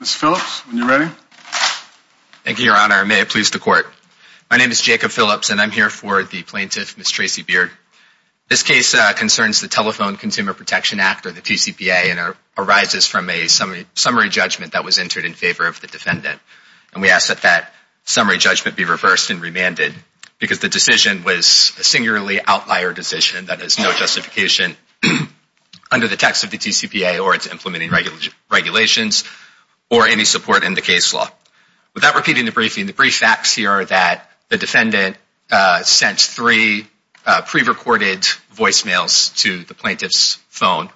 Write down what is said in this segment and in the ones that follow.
Ms. Phillips, when you're ready. Thank you, Your Honor. May it please the Court. My name is Jacob Phillips, and I'm here for the plaintiff, Ms. Tracie Beard. This case concerns the Telephone Consumer Protection Act, or the TCPA, and arises from a summary judgment that was entered in favor of the defendant. And we ask that that summary judgment be reversed and remanded because the decision was a singularly outlier decision that has no justification under the text of the TCPA or its implementing regulations or any support in the case law. Without repeating the briefing, the brief facts here are that the defendant sent three pre-recorded voicemails to the plaintiff's phone,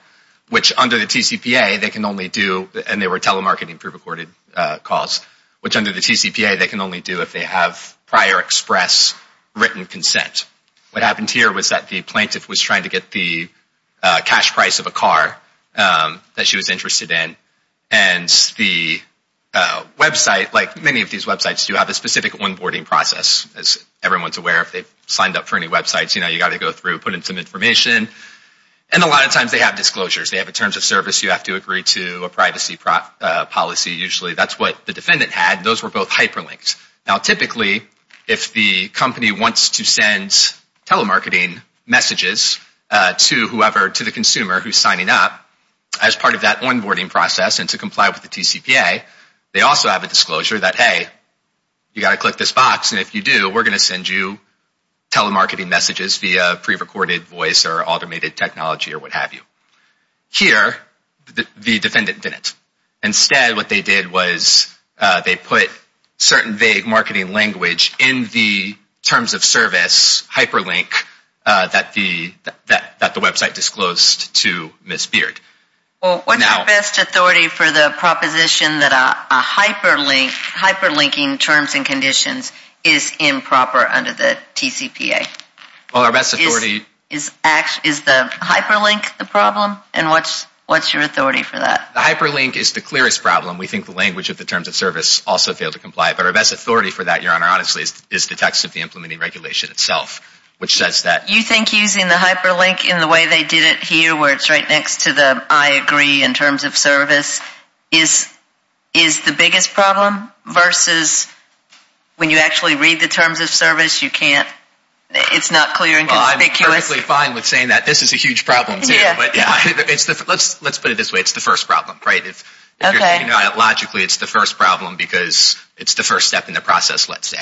which under the TCPA they can only do, and they were telemarketing pre-recorded calls, which under the TCPA they can only do if they have prior express written consent. What happened here was that the plaintiff was trying to get the cash price of a car that she was interested in, and the website, like many of these websites, do have a specific onboarding process. As everyone's aware, if they've signed up for any websites, you know, you've got to go through, put in some information. And a lot of times they have disclosures. They have a terms of service, you have to agree to a privacy policy, usually. That's what the defendant had. Those were both hyperlinked. Now typically, if the company wants to send telemarketing messages to whoever, to the consumer who's signing up, as part of that onboarding process and to comply with the TCPA, they also have a disclosure that, hey, you've got to click this box, and if you do, we're going to send you telemarketing messages via pre-recorded voice or automated technology or what have you. Here, the defendant didn't. Instead, what they did was they put certain vague marketing language in the terms of service hyperlink that the website disclosed to Ms. Beard. Well, what's your best authority for the proposition that a hyperlink, hyperlinking terms and conditions is improper under the TCPA? Well, our best authority... Is the hyperlink the problem, and what's your authority for that? The hyperlink is the clearest problem. We think the language of the terms of service also failed to comply, but our best authority for that, Your Honor, honestly, is the text of the implementing regulation itself, which says that... You think using the hyperlink in the way they did it here, where it's right next to the I agree in terms of service, is the biggest problem, versus when you actually read the terms of service, you can't... It's not clear and conspicuous. Well, I'm perfectly fine with saying that. This is a huge problem, too. Let's put it this way. It's the first problem, right? Logically, it's the first problem because it's the first step in the process, let's say.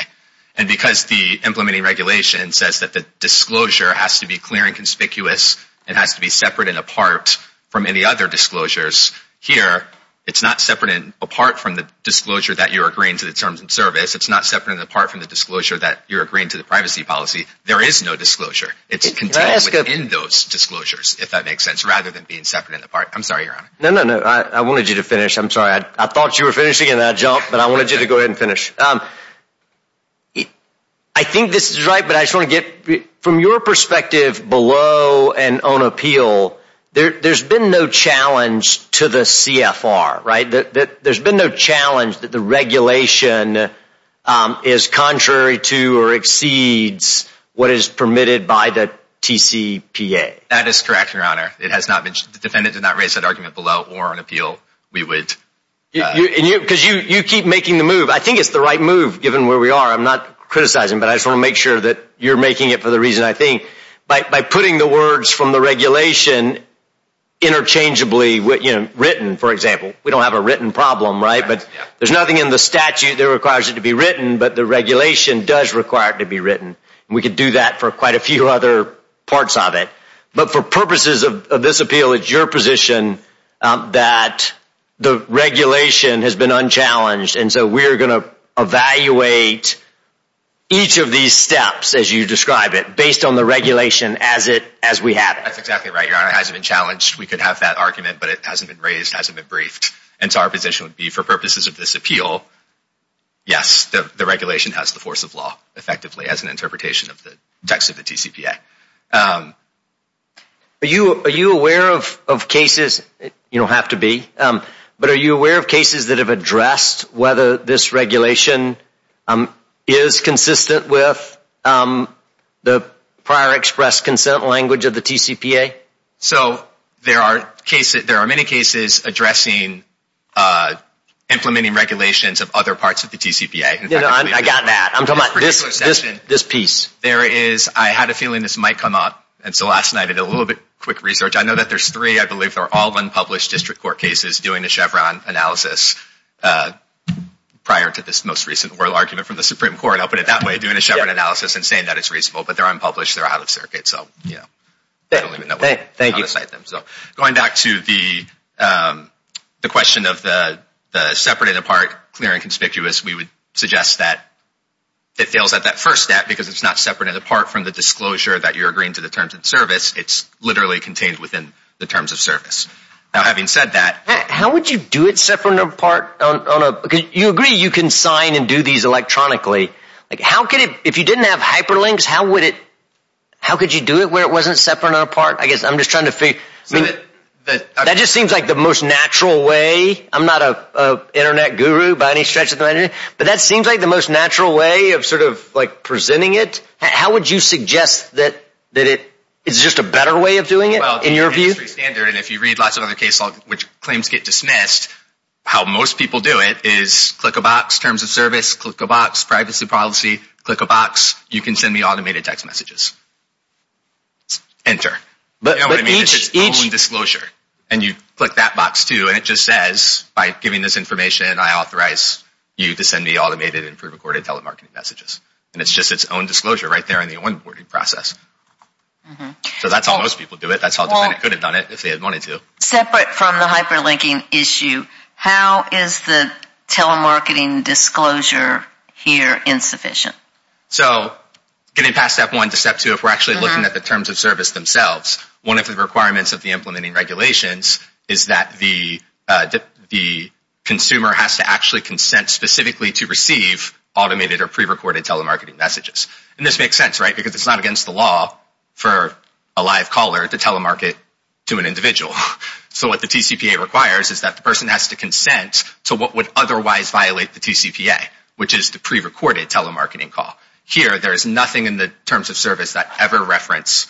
And because the implementing regulation says that the disclosure has to be clear and conspicuous and has to be separate and apart from any other disclosures, here it's not separate and apart from the disclosure that you're agreeing to the terms of service. It's not separate and apart from the disclosure that you're agreeing to the privacy policy. There is no disclosure. It's contained within those disclosures, if that makes sense, rather than being separate and apart. I'm sorry, Your Honor. No, no, no. I wanted you to finish. I'm sorry. I thought you were finishing and then I jumped, but I wanted you to go ahead and finish. I think this is right, but I just want to get... From your perspective below and on appeal, there's been no challenge to the CFR, right? That is correct, Your Honor. The defendant did not raise that argument below. Or on appeal, we would... Because you keep making the move. I think it's the right move, given where we are. I'm not criticizing, but I just want to make sure that you're making it for the reason I think. By putting the words from the regulation interchangeably, written, for example. We don't have a written problem, right? There's nothing in the statute that requires it to be written, but the regulation does require it to be written. We could do that for quite a few other parts of it. But for purposes of this appeal, it's your position that the regulation has been unchallenged. And so we're going to evaluate each of these steps, as you describe it, based on the regulation as we have it. That's exactly right, Your Honor. It hasn't been challenged. We could have that argument, but it hasn't been raised, hasn't been briefed. And so our position would be, for purposes of this appeal, yes, the regulation has the force of law. Effectively, as an interpretation of the text of the TCPA. Are you aware of cases? You don't have to be. But are you aware of cases that have addressed whether this regulation is consistent with the prior express consent language of the TCPA? So there are many cases addressing implementing regulations of other parts of the TCPA. I got that. I'm talking about this piece. I had a feeling this might come up, and so last night I did a little bit of quick research. I know that there's three, I believe, that are all unpublished district court cases doing a Chevron analysis prior to this most recent oral argument from the Supreme Court. I'll put it that way, doing a Chevron analysis and saying that it's reasonable. But they're unpublished. They're out of circuit. Going back to the question of the separate and apart, clear and conspicuous, we would suggest that it fails at that first step because it's not separate and apart from the disclosure that you're agreeing to the terms of service. It's literally contained within the terms of service. Now, having said that. How would you do it separate and apart? You agree you can sign and do these electronically. If you didn't have hyperlinks, how could you do it where it wasn't separate and apart? That just seems like the most natural way. I'm not an internet guru by any stretch of the imagination, but that seems like the most natural way of presenting it. How would you suggest that it's just a better way of doing it in your view? If you read lots of other case logs, which claims get dismissed, how most people do it is click a box, terms of service, click a box, privacy policy, click a box. You can send me automated text messages. Enter. You know what I mean? It's its own disclosure. And you click that box, too. And it just says, by giving this information, I authorize you to send me automated and pre-recorded telemarketing messages. And it's just its own disclosure right there in the onboarding process. So that's how most people do it. That's how a defendant could have done it if they had wanted to. Separate from the hyperlinking issue, how is the telemarketing disclosure here insufficient? So getting past step one to step two, if we're actually looking at the terms of service themselves, one of the requirements of the implementing regulations is that the consumer has to actually consent specifically to receive automated or pre-recorded telemarketing messages. And this makes sense, right? Because it's not against the law for a live caller to telemarket to an individual. So what the TCPA requires is that the person has to consent to what would otherwise violate the TCPA, which is the pre-recorded telemarketing call. Here, there is nothing in the terms of service that ever reference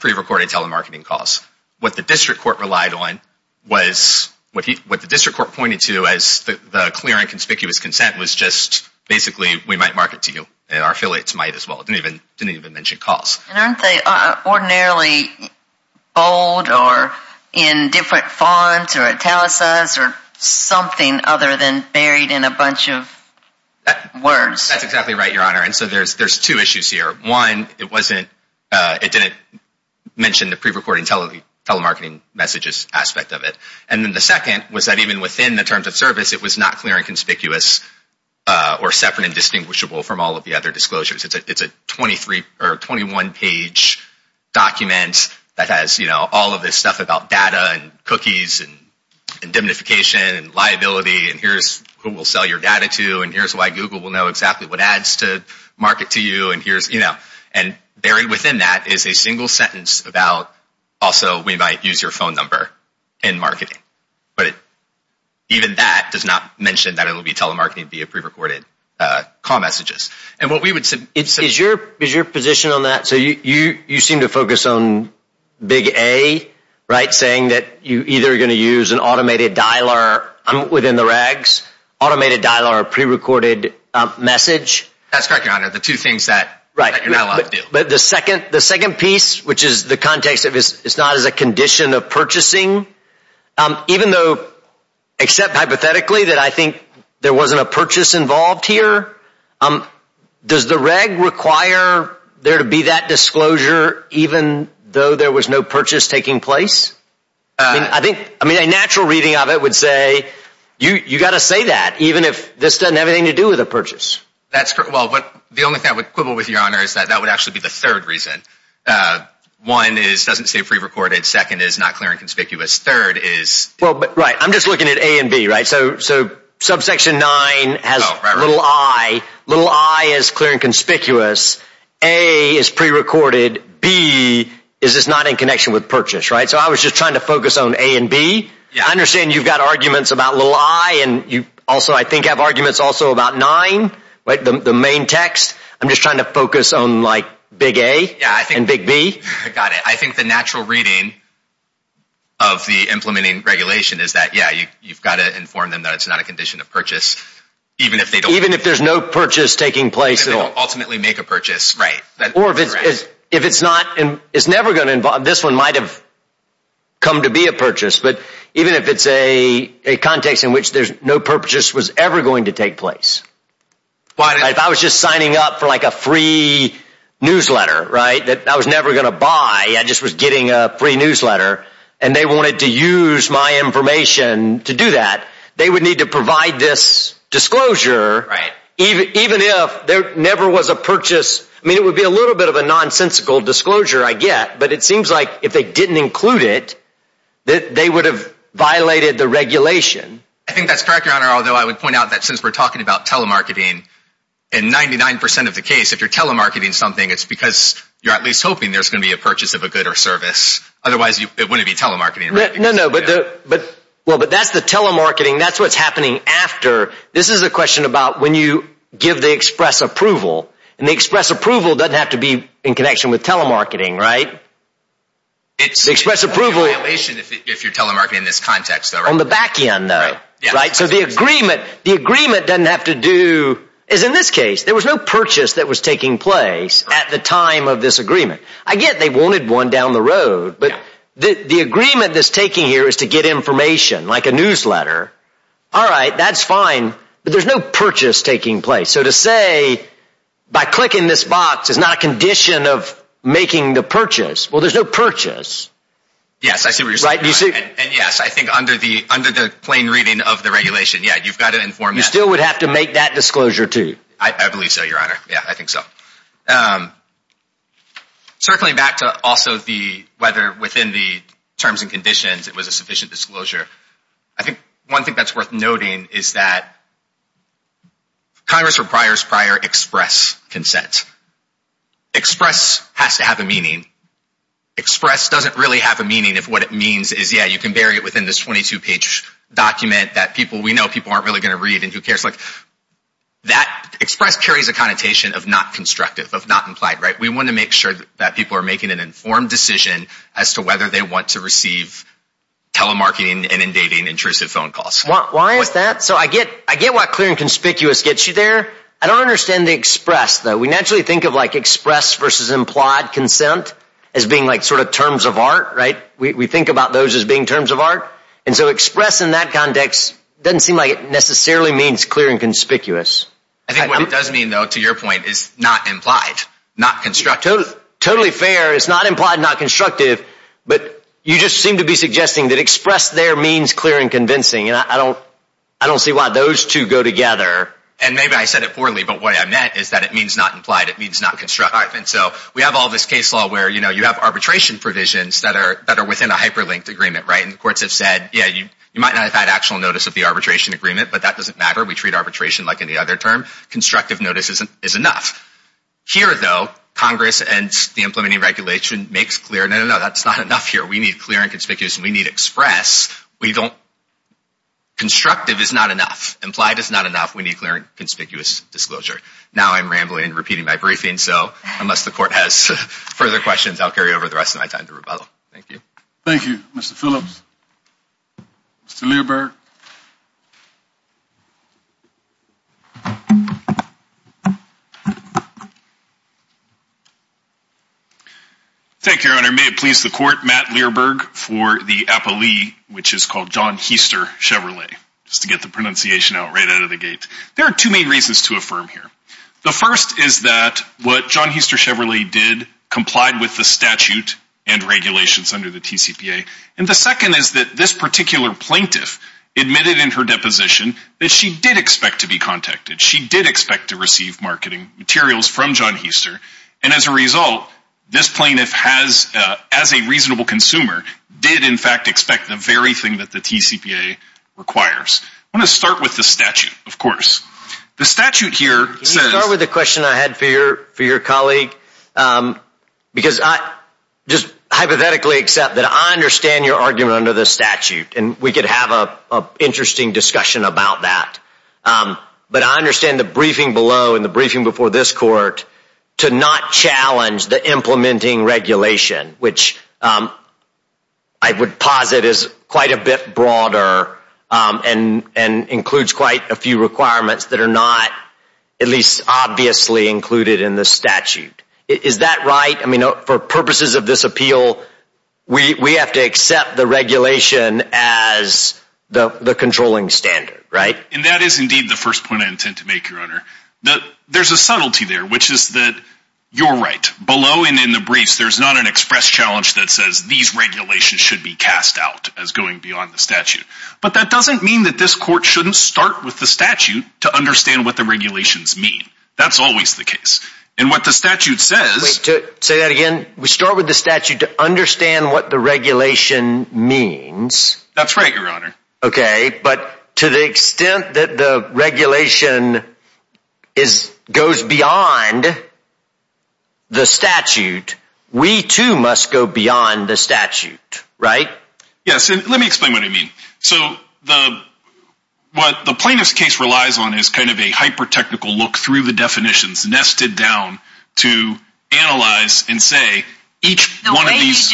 pre-recorded telemarketing calls. What the district court relied on was what the district court pointed to as the clear and conspicuous consent was just basically we might market to you. And our affiliates might as well. It didn't even mention calls. And aren't they ordinarily bold or in different fonts or italicized or something other than buried in a bunch of words? That's exactly right, Your Honor. And so there's two issues here. One, it didn't mention the pre-recorded telemarketing messages aspect of it. And then the second was that even within the terms of service, it was not clear and conspicuous or separate and distinguishable from all of the other disclosures. It's a 21-page document that has all of this stuff about data and cookies and indemnification and liability. And here's who we'll sell your data to. And here's why Google will know exactly what ads to market to you. And buried within that is a single sentence about also we might use your phone number in marketing. But even that does not mention that it will be telemarketing via pre-recorded call messages. Is your position on that? So you seem to focus on big A, right, saying that you're either going to use an automated dialer within the regs, automated dialer or pre-recorded message? That's correct, Your Honor. The two things that you're not allowed to do. But the second piece, which is the context of it's not as a condition of purchasing, even though except hypothetically that I think there wasn't a purchase involved here, does the reg require there to be that disclosure even though there was no purchase taking place? I mean, a natural reading of it would say you've got to say that even if this doesn't have anything to do with a purchase. That's correct. Well, the only thing I would quibble with, Your Honor, is that that would actually be the third reason. One is it doesn't say pre-recorded. Second is not clear and conspicuous. Third is… Well, right, I'm just looking at A and B, right? So subsection 9 has little i. Little i is clear and conspicuous. A is pre-recorded. B is it's not in connection with purchase, right? So I was just trying to focus on A and B. I understand you've got arguments about little i and you also I think have arguments also about 9, right, the main text. I'm just trying to focus on like big A and big B. Got it. I think the natural reading of the implementing regulation is that, yeah, you've got to inform them that it's not a condition of purchase, even if they don't… Even if there's no purchase taking place. And they don't ultimately make a purchase. Right. Or if it's not… It's never going to involve… This one might have come to be a purchase. But even if it's a context in which there's no purchase was ever going to take place. Why? If I was just signing up for like a free newsletter, right, that I was never going to buy. I just was getting a free newsletter and they wanted to use my information to do that, they would need to provide this disclosure even if there never was a purchase. I mean, it would be a little bit of a nonsensical disclosure, I get. But it seems like if they didn't include it, they would have violated the regulation. I think that's correct, Your Honor, although I would point out that since we're talking about telemarketing and 99% of the case, if you're telemarketing something, it's because you're at least hoping there's going to be a purchase of a good or service. Otherwise, it wouldn't be telemarketing. No, no. But that's the telemarketing. That's what's happening after. This is a question about when you give the express approval. And the express approval doesn't have to be in connection with telemarketing, right? It's a violation if you're telemarketing in this context, though, right? On the back end, though, right? So the agreement doesn't have to do, as in this case, there was no purchase that was taking place at the time of this agreement. I get they wanted one down the road, but the agreement that's taking here is to get information like a newsletter. All right. That's fine. But there's no purchase taking place. So to say by clicking this box is not a condition of making the purchase. Well, there's no purchase. Yes, I see what you're saying. And yes, I think under the plain reading of the regulation, yeah, you've got to inform that. You still would have to make that disclosure, too. I believe so, Your Honor. Yeah, I think so. Circling back to also whether within the terms and conditions it was a sufficient disclosure, I think one thing that's worth noting is that Congress requires prior express consent. Express has to have a meaning. Express doesn't really have a meaning if what it means is, yeah, you can bury it within this 22-page document that we know people aren't really going to read and who cares. Express carries a connotation of not constructive, of not implied. We want to make sure that people are making an informed decision as to whether they want to receive telemarketing and inundating intrusive phone calls. Why is that? So I get what clear and conspicuous gets you there. I don't understand the express, though. We naturally think of express versus implied consent as being sort of terms of art. We think about those as being terms of art. And so express in that context doesn't seem like it necessarily means clear and conspicuous. I think what it does mean, though, to your point, is not implied, not constructive. Totally fair. It's not implied, not constructive. But you just seem to be suggesting that express there means clear and convincing. And I don't see why those two go together. And maybe I said it poorly, but what I meant is that it means not implied. It means not constructive. And so we have all this case law where you have arbitration provisions that are within a hyperlinked agreement. And the courts have said, yeah, you might not have had actual notice of the arbitration agreement, but that doesn't matter. We treat arbitration like any other term. Constructive notice is enough. Here, though, Congress and the implementing regulation makes clear, no, no, no, that's not enough here. We need clear and conspicuous and we need express. Constructive is not enough. Implied is not enough. We need clear and conspicuous disclosure. Now I'm rambling and repeating my briefing. So unless the court has further questions, I'll carry over the rest of my time to rebuttal. Thank you. Thank you, Mr. Phillips. Mr. Learberg. Thank you, Your Honor. May it please the court, Matt Learberg for the appellee, which is called John Hester Chevrolet, just to get the pronunciation out right out of the gate. There are two main reasons to affirm here. The first is that what John Hester Chevrolet did complied with the statute and regulations under the TCPA. And the second is that this particular plaintiff admitted in her deposition that she did expect to be contacted. She did expect to receive marketing materials from John Hester. And as a result, this plaintiff has, as a reasonable consumer, did in fact expect the very thing that the TCPA requires. I want to start with the statute, of course. The statute here says... Can you start with the question I had for your colleague? Because I just hypothetically accept that I understand your argument under the statute, and we could have an interesting discussion about that. But I understand the briefing below and the briefing before this court to not challenge the implementing regulation, which I would posit is quite a bit broader and includes quite a few requirements that are not at least obviously included in the statute. Is that right? I mean, for purposes of this appeal, we have to accept the regulation as the controlling standard, right? And that is indeed the first point I intend to make, Your Honor. There's a subtlety there, which is that you're right. Below and in the briefs, there's not an express challenge that says these regulations should be cast out as going beyond the statute. But that doesn't mean that this court shouldn't start with the statute to understand what the regulations mean. That's always the case. And what the statute says... Say that again. We start with the statute to understand what the regulation means. That's right, Your Honor. Okay, but to the extent that the regulation goes beyond the statute, we too must go beyond the statute, right? Yes, and let me explain what I mean. So what the plaintiff's case relies on is kind of a hyper-technical look through the definitions nested down to analyze and say each one of these...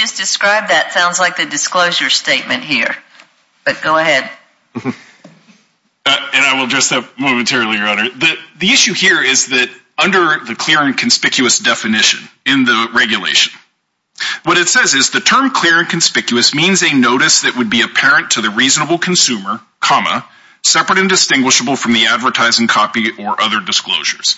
And I will address that momentarily, Your Honor. The issue here is that under the clear and conspicuous definition in the regulation, what it says is the term clear and conspicuous means a notice that would be apparent to the reasonable consumer, comma, separate and distinguishable from the advertising copy or other disclosures.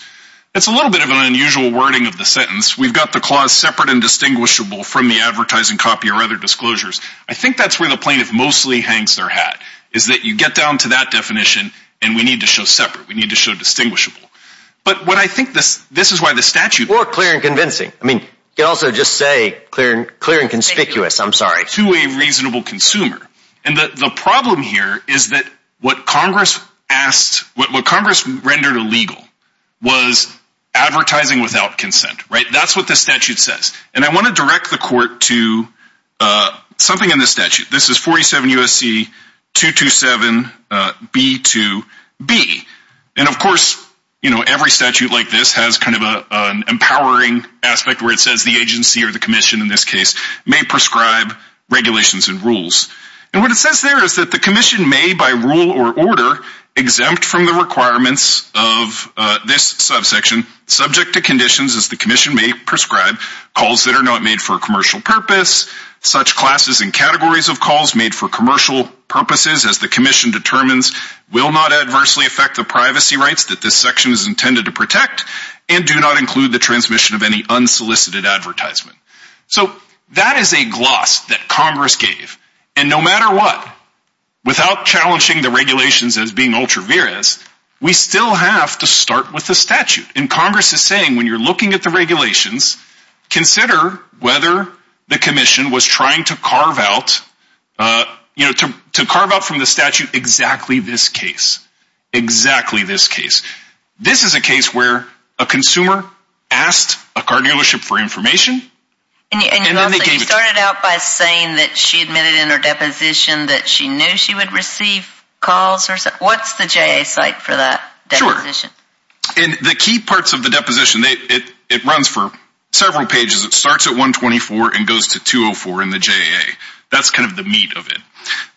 That's a little bit of an unusual wording of the sentence. We've got the clause separate and distinguishable from the advertising copy or other disclosures. I think that's where the plaintiff mostly hangs their hat, is that you get down to that definition and we need to show separate. We need to show distinguishable. But what I think this is why the statute... Or clear and convincing. I mean, you can also just say clear and conspicuous. I'm sorry. To a reasonable consumer. And the problem here is that what Congress rendered illegal was advertising without consent, right? That's what the statute says. And I want to direct the court to something in the statute. This is 47 U.S.C. 227B2B. And, of course, every statute like this has kind of an empowering aspect where it says the agency or the commission, in this case, may prescribe regulations and rules. And what it says there is that the commission may, by rule or order, exempt from the requirements of this subsection, subject to conditions as the commission may prescribe, calls that are not made for a commercial purpose, such classes and categories of calls made for commercial purposes, as the commission determines, will not adversely affect the privacy rights that this section is intended to protect, and do not include the transmission of any unsolicited advertisement. So that is a gloss that Congress gave. And no matter what, without challenging the regulations as being ultra vires, we still have to start with the statute. And Congress is saying when you're looking at the regulations, consider whether the commission was trying to carve out from the statute exactly this case. Exactly this case. This is a case where a consumer asked a car dealership for information. And you started out by saying that she admitted in her deposition that she knew she would receive calls. What's the J.A. site for that? Sure. And the key parts of the deposition, it runs for several pages. It starts at 124 and goes to 204 in the J.A. That's kind of the meat of it.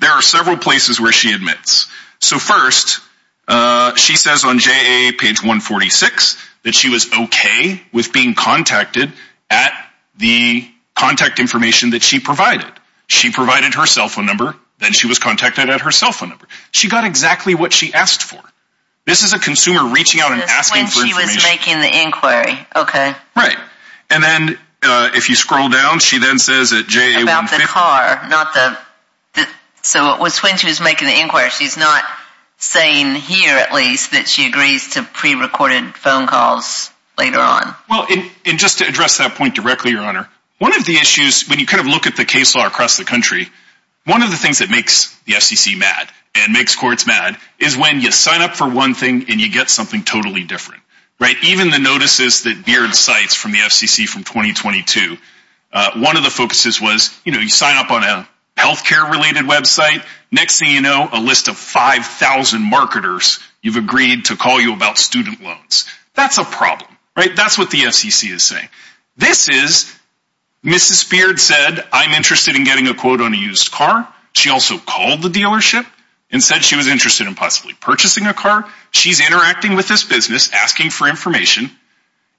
There are several places where she admits. So first, she says on J.A. page 146 that she was okay with being contacted at the contact information that she provided. She provided her cell phone number. Then she was contacted at her cell phone number. She got exactly what she asked for. This is a consumer reaching out and asking for information. When she was making the inquiry. Okay. Right. And then if you scroll down, she then says at J.A. About the car. So it was when she was making the inquiry. She's not saying here at least that she agrees to prerecorded phone calls later on. Well, and just to address that point directly, Your Honor, one of the issues when you kind of look at the case law across the country, one of the things that makes the FCC mad and makes courts mad is when you sign up for one thing and you get something totally different. Right? Even the notices that Beard cites from the FCC from 2022, one of the focuses was, you know, you sign up on a health care related website. Next thing you know, a list of 5,000 marketers you've agreed to call you about student loans. That's a problem. Right? That's what the FCC is saying. This is Mrs. Beard said, I'm interested in getting a quote on a used car. She also called the dealership and said she was interested in possibly purchasing a car. She's interacting with this business, asking for information.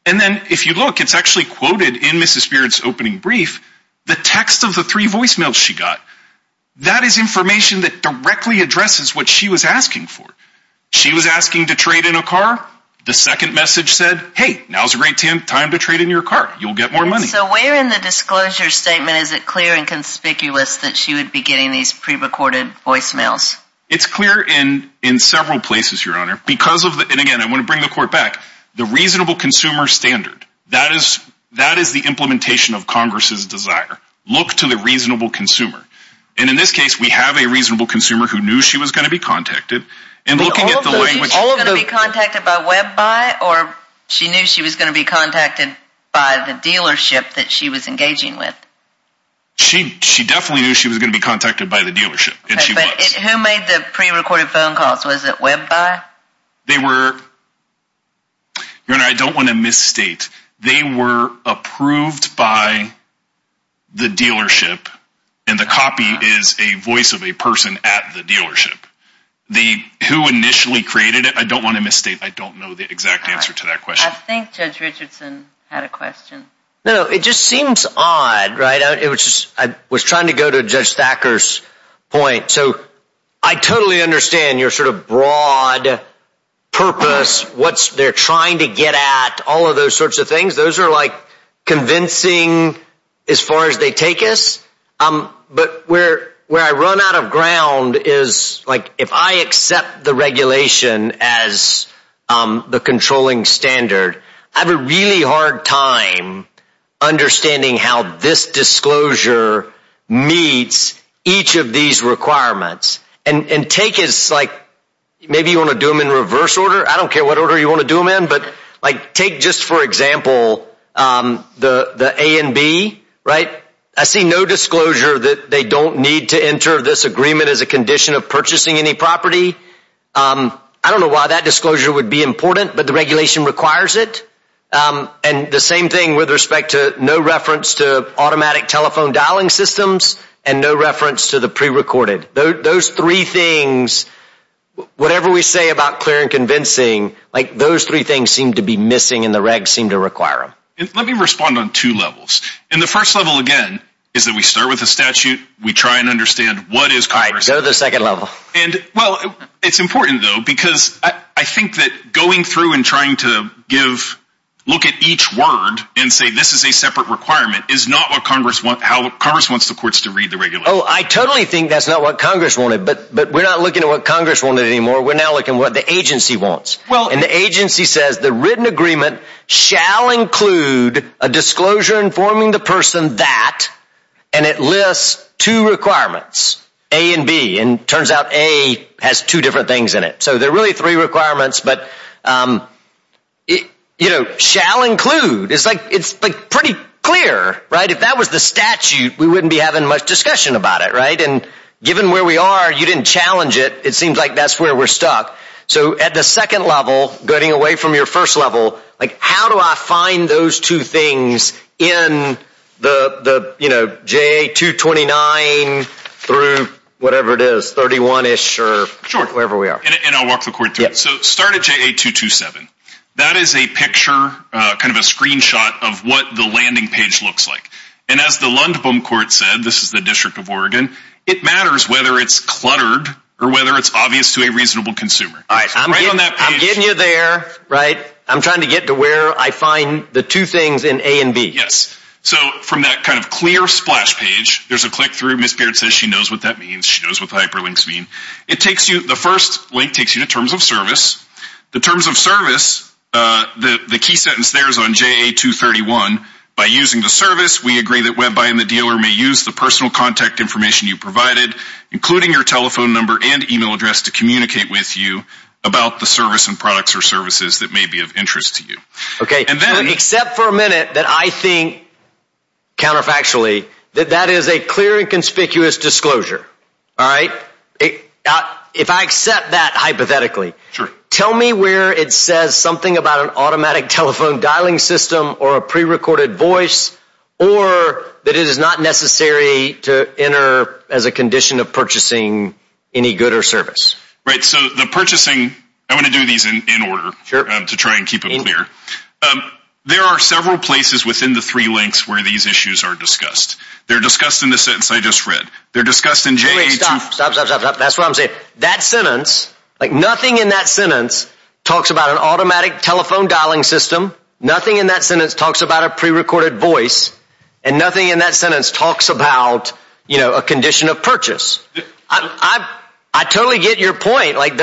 And then if you look, it's actually quoted in Mrs. Beard's opening brief, the text of the three voicemails she got. That is information that directly addresses what she was asking for. She was asking to trade in a car. The second message said, hey, now's a great time to trade in your car. You'll get more money. So where in the disclosure statement is it clear and conspicuous that she would be getting these prerecorded voicemails? It's clear in several places, Your Honor. Because of the, and again, I want to bring the court back, the reasonable consumer standard. That is the implementation of Congress's desire. Look to the reasonable consumer. And in this case, we have a reasonable consumer who knew she was going to be contacted. And looking at the language. Was she going to be contacted by Web Buy? Or she knew she was going to be contacted by the dealership that she was engaging with? She definitely knew she was going to be contacted by the dealership. Who made the prerecorded phone calls? Was it Web Buy? They were, Your Honor, I don't want to misstate. They were approved by the dealership. And the copy is a voice of a person at the dealership. The, who initially created it, I don't want to misstate. I don't know the exact answer to that question. I think Judge Richardson had a question. No, it just seems odd, right? I was trying to go to Judge Thacker's point. So I totally understand your sort of broad purpose. What they're trying to get at. All of those sorts of things. Those are like convincing as far as they take us. But where I run out of ground is like if I accept the regulation as the controlling standard. I have a really hard time understanding how this disclosure meets each of these requirements. And take as like maybe you want to do them in reverse order. I don't care what order you want to do them in. But like take just for example the A and B, right? I see no disclosure that they don't need to enter this agreement as a condition of purchasing any property. I don't know why that disclosure would be important. But the regulation requires it. And the same thing with respect to no reference to automatic telephone dialing systems and no reference to the prerecorded. Those three things, whatever we say about clear and convincing, like those three things seem to be missing and the regs seem to require them. Let me respond on two levels. And the first level again is that we start with the statute. We try and understand what is Congress. All right, go to the second level. Well, it's important though because I think that going through and trying to look at each word and say this is a separate requirement is not how Congress wants the courts to read the regulation. Oh, I totally think that's not what Congress wanted. But we're not looking at what Congress wanted anymore. We're now looking at what the agency wants. And the agency says the written agreement shall include a disclosure informing the person that and it lists two requirements, A and B. And it turns out A has two different things in it. So there are really three requirements, but, you know, shall include. It's like pretty clear, right? If that was the statute, we wouldn't be having much discussion about it, right? And given where we are, you didn't challenge it. It seems like that's where we're stuck. So at the second level, getting away from your first level, like how do I find those two things in the, you know, J.A. 229 through whatever it is, 31-ish or wherever we are. And I'll walk the court through it. So start at J.A. 227. That is a picture, kind of a screenshot of what the landing page looks like. And as the Lundbom court said, this is the District of Oregon, it matters whether it's cluttered or whether it's obvious to a reasonable consumer. All right. Right on that page. I'm getting you there, right? I'm trying to get to where I find the two things in A and B. Yes. So from that kind of clear splash page, there's a click through. Ms. Baird says she knows what that means. She knows what hyperlinks mean. It takes you, the first link takes you to terms of service. The terms of service, the key sentence there is on J.A. 231. By using the service, we agree that WebBuy and the dealer may use the personal contact information you provided, including your telephone number and e-mail address, to communicate with you about the service and products or services that may be of interest to you. Okay. Except for a minute that I think, counterfactually, that that is a clear and conspicuous disclosure. All right? If I accept that hypothetically, tell me where it says something about an automatic telephone dialing system or a prerecorded voice or that it is not necessary to enter as a condition of purchasing any good or service. Right. So the purchasing, I'm going to do these in order to try and keep it clear. There are several places within the three links where these issues are discussed. They're discussed in the sentence I just read. They're discussed in J.A. 231. Stop, stop, stop, stop. That's what I'm saying. That sentence, like nothing in that sentence talks about an automatic telephone dialing system. Nothing in that sentence talks about a prerecorded voice. And nothing in that sentence talks about, you know, a condition of purchase. I totally get your point. Like,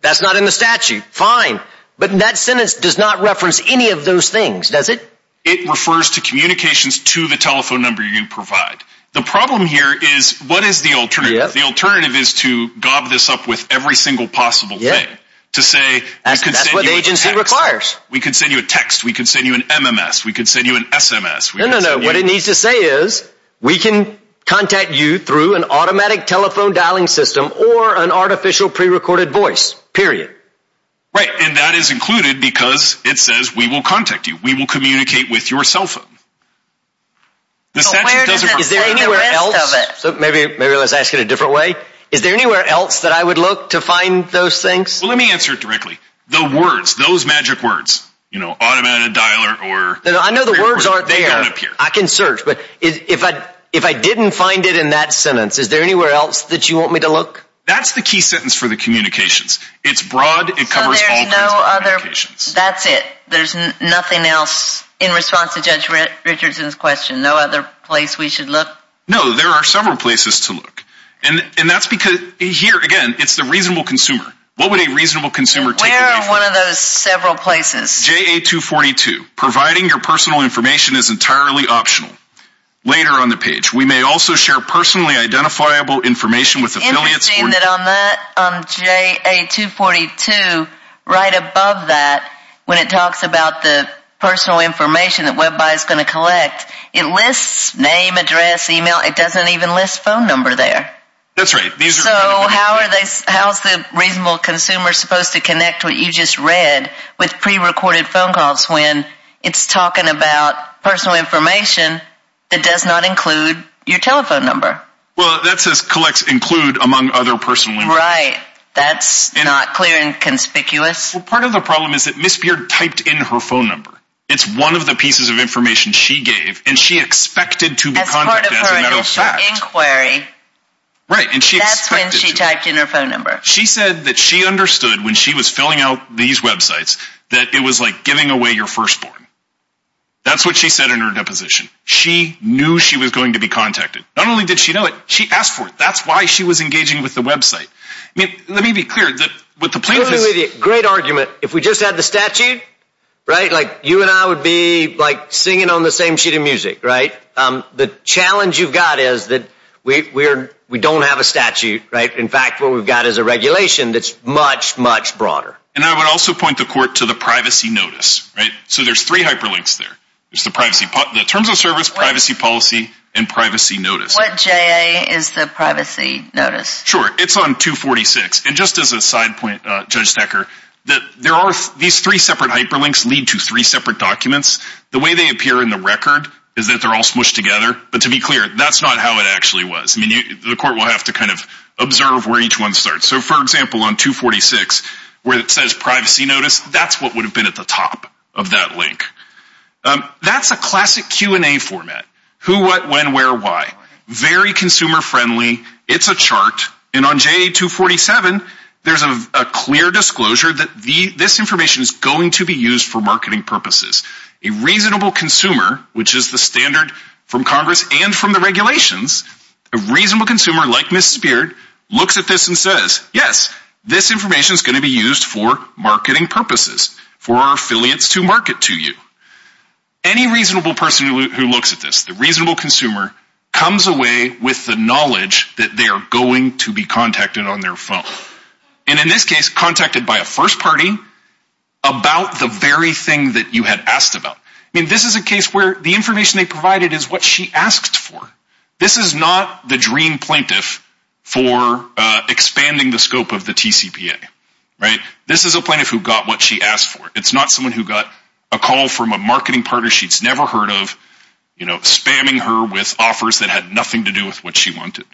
that's not in the statute. Fine. But that sentence does not reference any of those things, does it? It refers to communications to the telephone number you provide. The problem here is what is the alternative? The alternative is to gob this up with every single possible way. To say we could send you a text. That's what the agency requires. We could send you a text. We could send you an MMS. We could send you an SMS. No, no, no. What it needs to say is we can contact you through an automatic telephone dialing system or an artificial prerecorded voice, period. Right. And that is included because it says we will contact you. We will communicate with your cell phone. So where does it say the rest of it? Maybe let's ask it a different way. Is there anywhere else that I would look to find those things? Well, let me answer it directly. The words, those magic words, you know, automated dialer or prerecorded. I know the words aren't there. They don't appear. I can search. But if I didn't find it in that sentence, is there anywhere else that you want me to look? That's the key sentence for the communications. It's broad. It covers all kinds of communications. So there's no other. That's it. There's nothing else in response to Judge Richardson's question. No other place we should look? No, there are several places to look. And that's because here, again, it's the reasonable consumer. What would a reasonable consumer take away from it? Where are one of those several places? JA-242. Providing your personal information is entirely optional. Later on the page. We may also share personally identifiable information with affiliates. On JA-242, right above that, when it talks about the personal information that WebBuy is going to collect, it lists name, address, email. It doesn't even list phone number there. That's right. So how is the reasonable consumer supposed to connect what you just read with prerecorded phone calls when it's talking about personal information that does not include your telephone number? Well, that says collects include among other personal information. Right. That's not clear and conspicuous. Well, part of the problem is that Ms. Beard typed in her phone number. It's one of the pieces of information she gave, and she expected to be contacted as a matter of fact. As part of her initial inquiry. Right, and she expected to. That's when she typed in her phone number. She said that she understood when she was filling out these websites that it was like giving away your firstborn. That's what she said in her deposition. She knew she was going to be contacted. Not only did she know it, she asked for it. That's why she was engaging with the website. Let me be clear. Great argument. If we just had the statute, right, like you and I would be like singing on the same sheet of music, right? The challenge you've got is that we don't have a statute, right? In fact, what we've got is a regulation that's much, much broader. And I would also point the court to the privacy notice, right? So there's three hyperlinks there. There's the terms of service, privacy policy, and privacy notice. What JA is the privacy notice? Sure. It's on 246. And just as a side point, Judge Stecker, there are these three separate hyperlinks lead to three separate documents. The way they appear in the record is that they're all smooshed together. But to be clear, that's not how it actually was. The court will have to kind of observe where each one starts. So, for example, on 246, where it says privacy notice, that's what would have been at the top of that link. That's a classic Q&A format. Who, what, when, where, why. Very consumer friendly. It's a chart. And on JA 247, there's a clear disclosure that this information is going to be used for marketing purposes. A reasonable consumer, which is the standard from Congress and from the regulations, a reasonable consumer like Ms. Speared looks at this and says, yes, this information is going to be used for marketing purposes, for our affiliates to market to you. Any reasonable person who looks at this, the reasonable consumer, comes away with the knowledge that they are going to be contacted on their phone. And in this case, contacted by a first party about the very thing that you had asked about. I mean, this is a case where the information they provided is what she asked for. This is not the dream plaintiff for expanding the scope of the TCPA. This is a plaintiff who got what she asked for. It's not someone who got a call from a marketing partner she's never heard of, spamming her with offers that had nothing to do with what she wanted.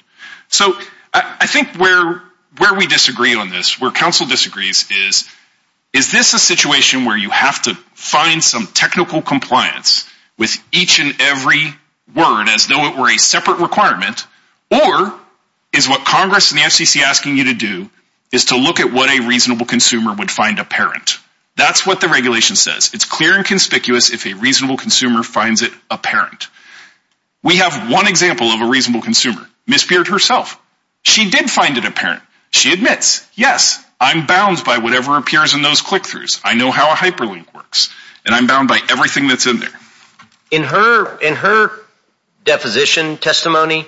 So I think where we disagree on this, where counsel disagrees is, is this a situation where you have to find some technical compliance with each and every word as though it were a separate requirement, or is what Congress and the FCC are asking you to do is to look at what a reasonable consumer would find apparent. That's what the regulation says. It's clear and conspicuous if a reasonable consumer finds it apparent. We have one example of a reasonable consumer, Ms. Speared herself. She did find it apparent. She admits, yes, I'm bound by whatever appears in those click-throughs. I know how a hyperlink works, and I'm bound by everything that's in there. In her deposition testimony,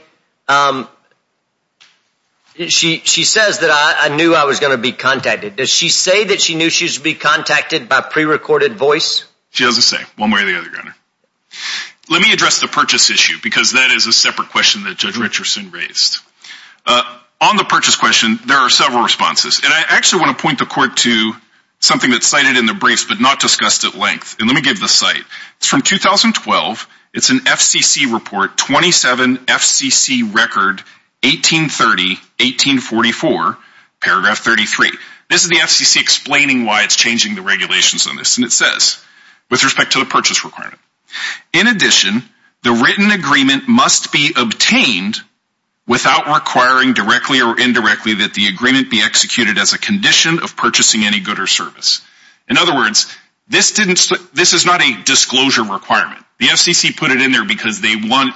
she says that I knew I was going to be contacted. Does she say that she knew she was going to be contacted by prerecorded voice? She doesn't say, one way or the other, Your Honor. Let me address the purchase issue because that is a separate question that Judge Richardson raised. On the purchase question, there are several responses, and I actually want to point the court to something that's cited in the briefs but not discussed at length. Let me give the site. It's from 2012. It's an FCC report, 27 FCC record, 1830, 1844, paragraph 33. This is the FCC explaining why it's changing the regulations on this, and it says, with respect to the purchase requirement, in addition, the written agreement must be obtained without requiring directly or indirectly that the agreement be executed as a condition of purchasing any good or service. In other words, this is not a disclosure requirement. The FCC put it in there because they want,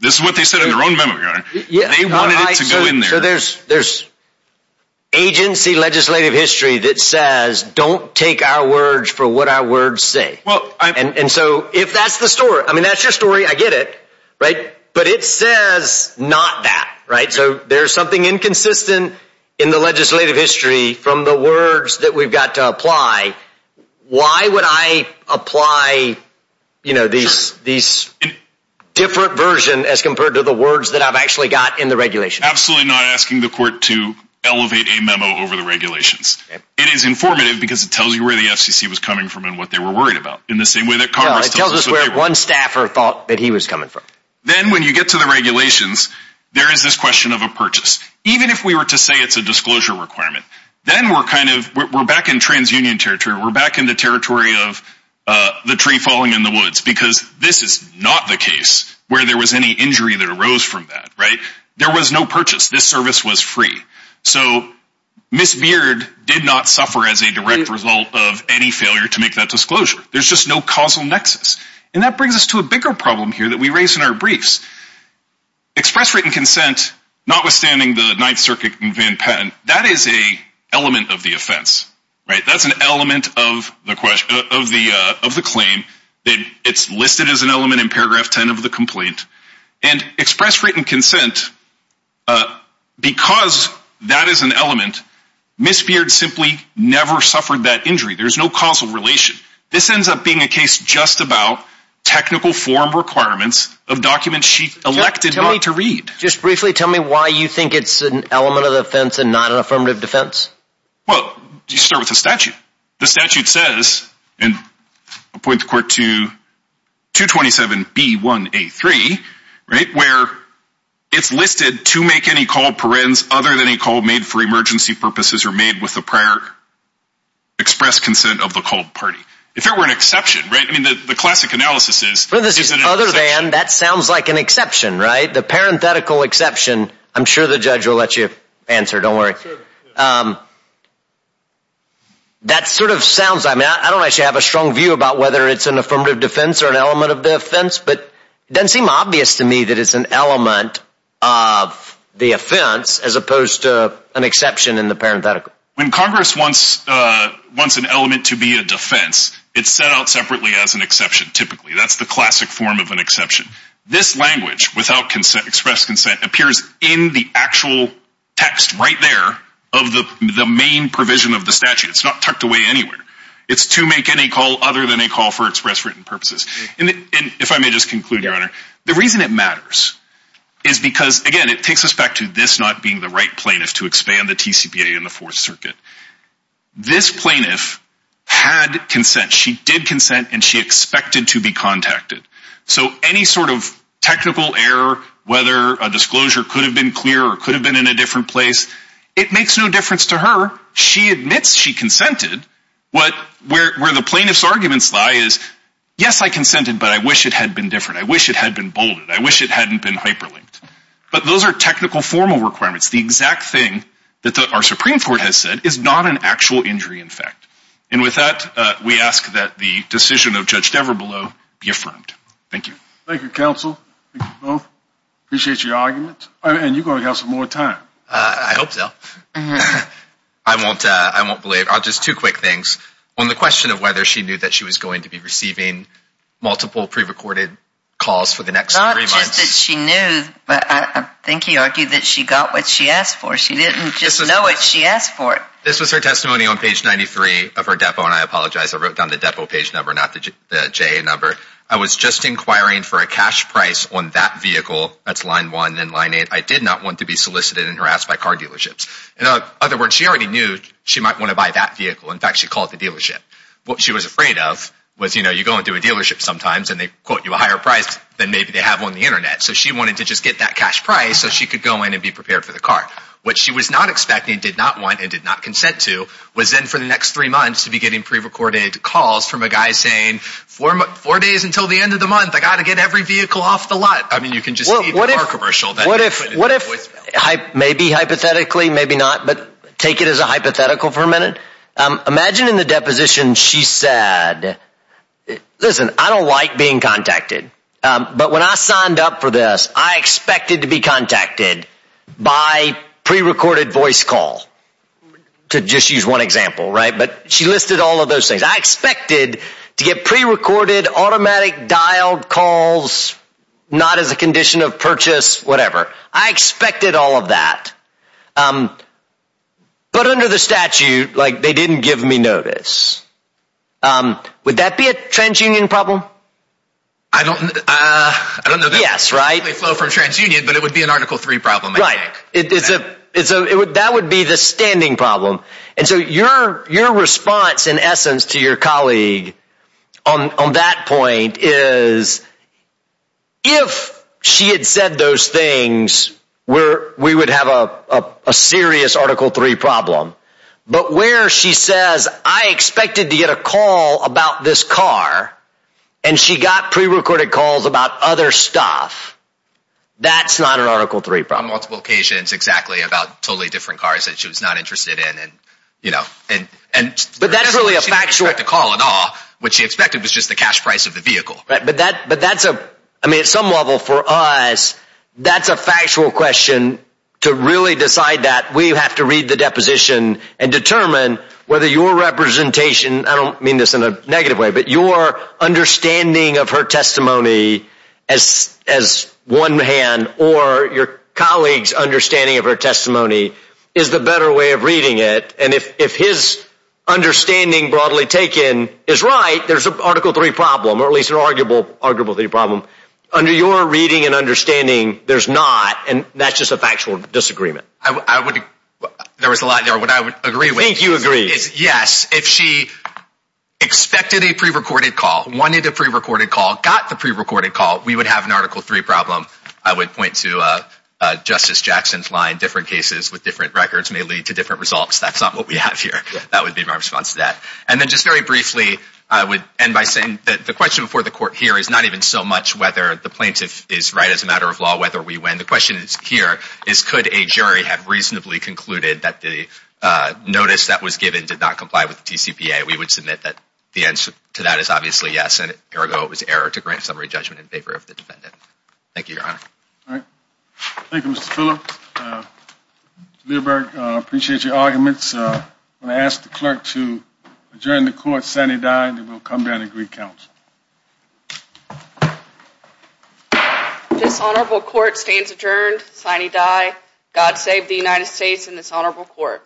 this is what they said in their own memo, Your Honor, they wanted it to go in there. So there's agency legislative history that says, don't take our words for what our words say. And so if that's the story, I mean, that's your story, I get it, right? But it says not that, right? So there's something inconsistent in the legislative history from the words that we've got to apply. Why would I apply, you know, these different versions as compared to the words that I've actually got in the regulations? Absolutely not asking the court to elevate a memo over the regulations. It is informative because it tells you where the FCC was coming from and what they were worried about in the same way that Congress tells us where they were. No, it tells us where one staffer thought that he was coming from. Then when you get to the regulations, there is this question of a purchase. Even if we were to say it's a disclosure requirement, then we're kind of, we're back in transunion territory. We're back in the territory of the tree falling in the woods because this is not the case where there was any injury that arose from that, right? There was no purchase. This service was free. So Ms. Beard did not suffer as a direct result of any failure to make that disclosure. There's just no causal nexus. And that brings us to a bigger problem here that we raise in our briefs. Express written consent, notwithstanding the Ninth Circuit and Van Patten, that is an element of the offense, right? That's an element of the claim. It's listed as an element in paragraph 10 of the complaint. And express written consent, because that is an element, Ms. Beard simply never suffered that injury. There's no causal relation. This ends up being a case just about technical form requirements of documents she elected not to read. Just briefly tell me why you think it's an element of the offense and not an affirmative defense. Well, you start with the statute. The statute says, and I'll point the court to 227B1A3, right? Where it's listed to make any call parens other than a call made for emergency purposes or made with the prior express consent of the called party. If there were an exception, right? I mean, the classic analysis is, is it an exception? Other than, that sounds like an exception, right? The parenthetical exception, I'm sure the judge will let you answer. Don't worry. That sort of sounds, I mean, I don't actually have a strong view about whether it's an affirmative defense or an element of the offense. But it doesn't seem obvious to me that it's an element of the offense as opposed to an exception in the parenthetical. When Congress wants an element to be a defense, it's set out separately as an exception, typically. That's the classic form of an exception. This language, without express consent, appears in the actual text right there of the main provision of the statute. It's not tucked away anywhere. It's to make any call other than a call for express written purposes. And if I may just conclude, Your Honor, the reason it matters is because, again, it takes us back to this not being the right plaintiff to expand the TCPA in the Fourth Circuit. This plaintiff had consent. She did consent, and she expected to be contacted. So any sort of technical error, whether a disclosure could have been clear or could have been in a different place, it makes no difference to her. She admits she consented. Where the plaintiff's arguments lie is, yes, I consented, but I wish it had been different. I wish it had been bolded. I wish it hadn't been hyperlinked. But those are technical formal requirements. The exact thing that our Supreme Court has said is not an actual injury in fact. And with that, we ask that the decision of Judge Devereux be affirmed. Thank you. Thank you, counsel. Thank you both. Appreciate your argument. And you're going to have some more time. I hope so. I won't believe. Just two quick things. On the question of whether she knew that she was going to be receiving multiple pre-recorded calls for the next three months. Not just that she knew, but I think he argued that she got what she asked for. She didn't just know it. She asked for it. This was her testimony on page 93 of her depo, and I apologize. I wrote down the depo page number, not the JA number. I was just inquiring for a cash price on that vehicle. That's line 1 and line 8. I did not want to be solicited and harassed by car dealerships. In other words, she already knew she might want to buy that vehicle. In fact, she called the dealership. What she was afraid of was, you know, you go into a dealership sometimes and they quote you a higher price than maybe they have on the Internet. So she wanted to just get that cash price so she could go in and be prepared for the car. What she was not expecting, did not want, and did not consent to was then for the next three months to be getting pre-recorded calls from a guy saying four days until the end of the month. I've got to get every vehicle off the lot. I mean you can just see the car commercial. What if maybe hypothetically, maybe not, but take it as a hypothetical for a minute. Imagine in the deposition she said, listen, I don't like being contacted. But when I signed up for this, I expected to be contacted by pre-recorded voice call. To just use one example, right? But she listed all of those things. I expected to get pre-recorded, automatic dialed calls, not as a condition of purchase, whatever. I expected all of that. But under the statute, like they didn't give me notice. Would that be a trans-union problem? I don't know. Yes, right. It would flow from trans-union, but it would be an Article 3 problem, I think. Right. That would be the standing problem. And so your response in essence to your colleague on that point is if she had said those things, we would have a serious Article 3 problem. But where she says, I expected to get a call about this car, and she got pre-recorded calls about other stuff, that's not an Article 3 problem. On multiple occasions, exactly, about totally different cars that she was not interested in. But that's really a factual. She didn't expect a call at all. What she expected was just the cash price of the vehicle. I mean, at some level for us, that's a factual question to really decide that. We have to read the deposition and determine whether your representation, I don't mean this in a negative way, but your understanding of her testimony as one hand or your colleague's understanding of her testimony is the better way of reading it. And if his understanding broadly taken is right, there's an Article 3 problem, or at least an arguable Article 3 problem. Under your reading and understanding, there's not, and that's just a factual disagreement. There was a lot there that I would agree with. I think you agree. Yes, if she expected a pre-recorded call, wanted a pre-recorded call, got the pre-recorded call, we would have an Article 3 problem. I would point to Justice Jackson's line, different cases with different records may lead to different results. That's not what we have here. That would be my response to that. And then just very briefly, I would end by saying that the question before the Court here is not even so much whether the plaintiff is right as a matter of law, whether we win. The question here is could a jury have reasonably concluded that the notice that was given did not comply with the TCPA? We would submit that the answer to that is obviously yes, and ergo it was error to grant summary judgment in favor of the defendant. Thank you, Your Honor. All right. Thank you, Mr. Phillips. Mr. Leiberg, I appreciate your arguments. I'm going to ask the clerk to adjourn the Court sine die and then we'll come back and agree counsel. Dishonorable Court stands adjourned sine die. God save the United States and this honorable Court.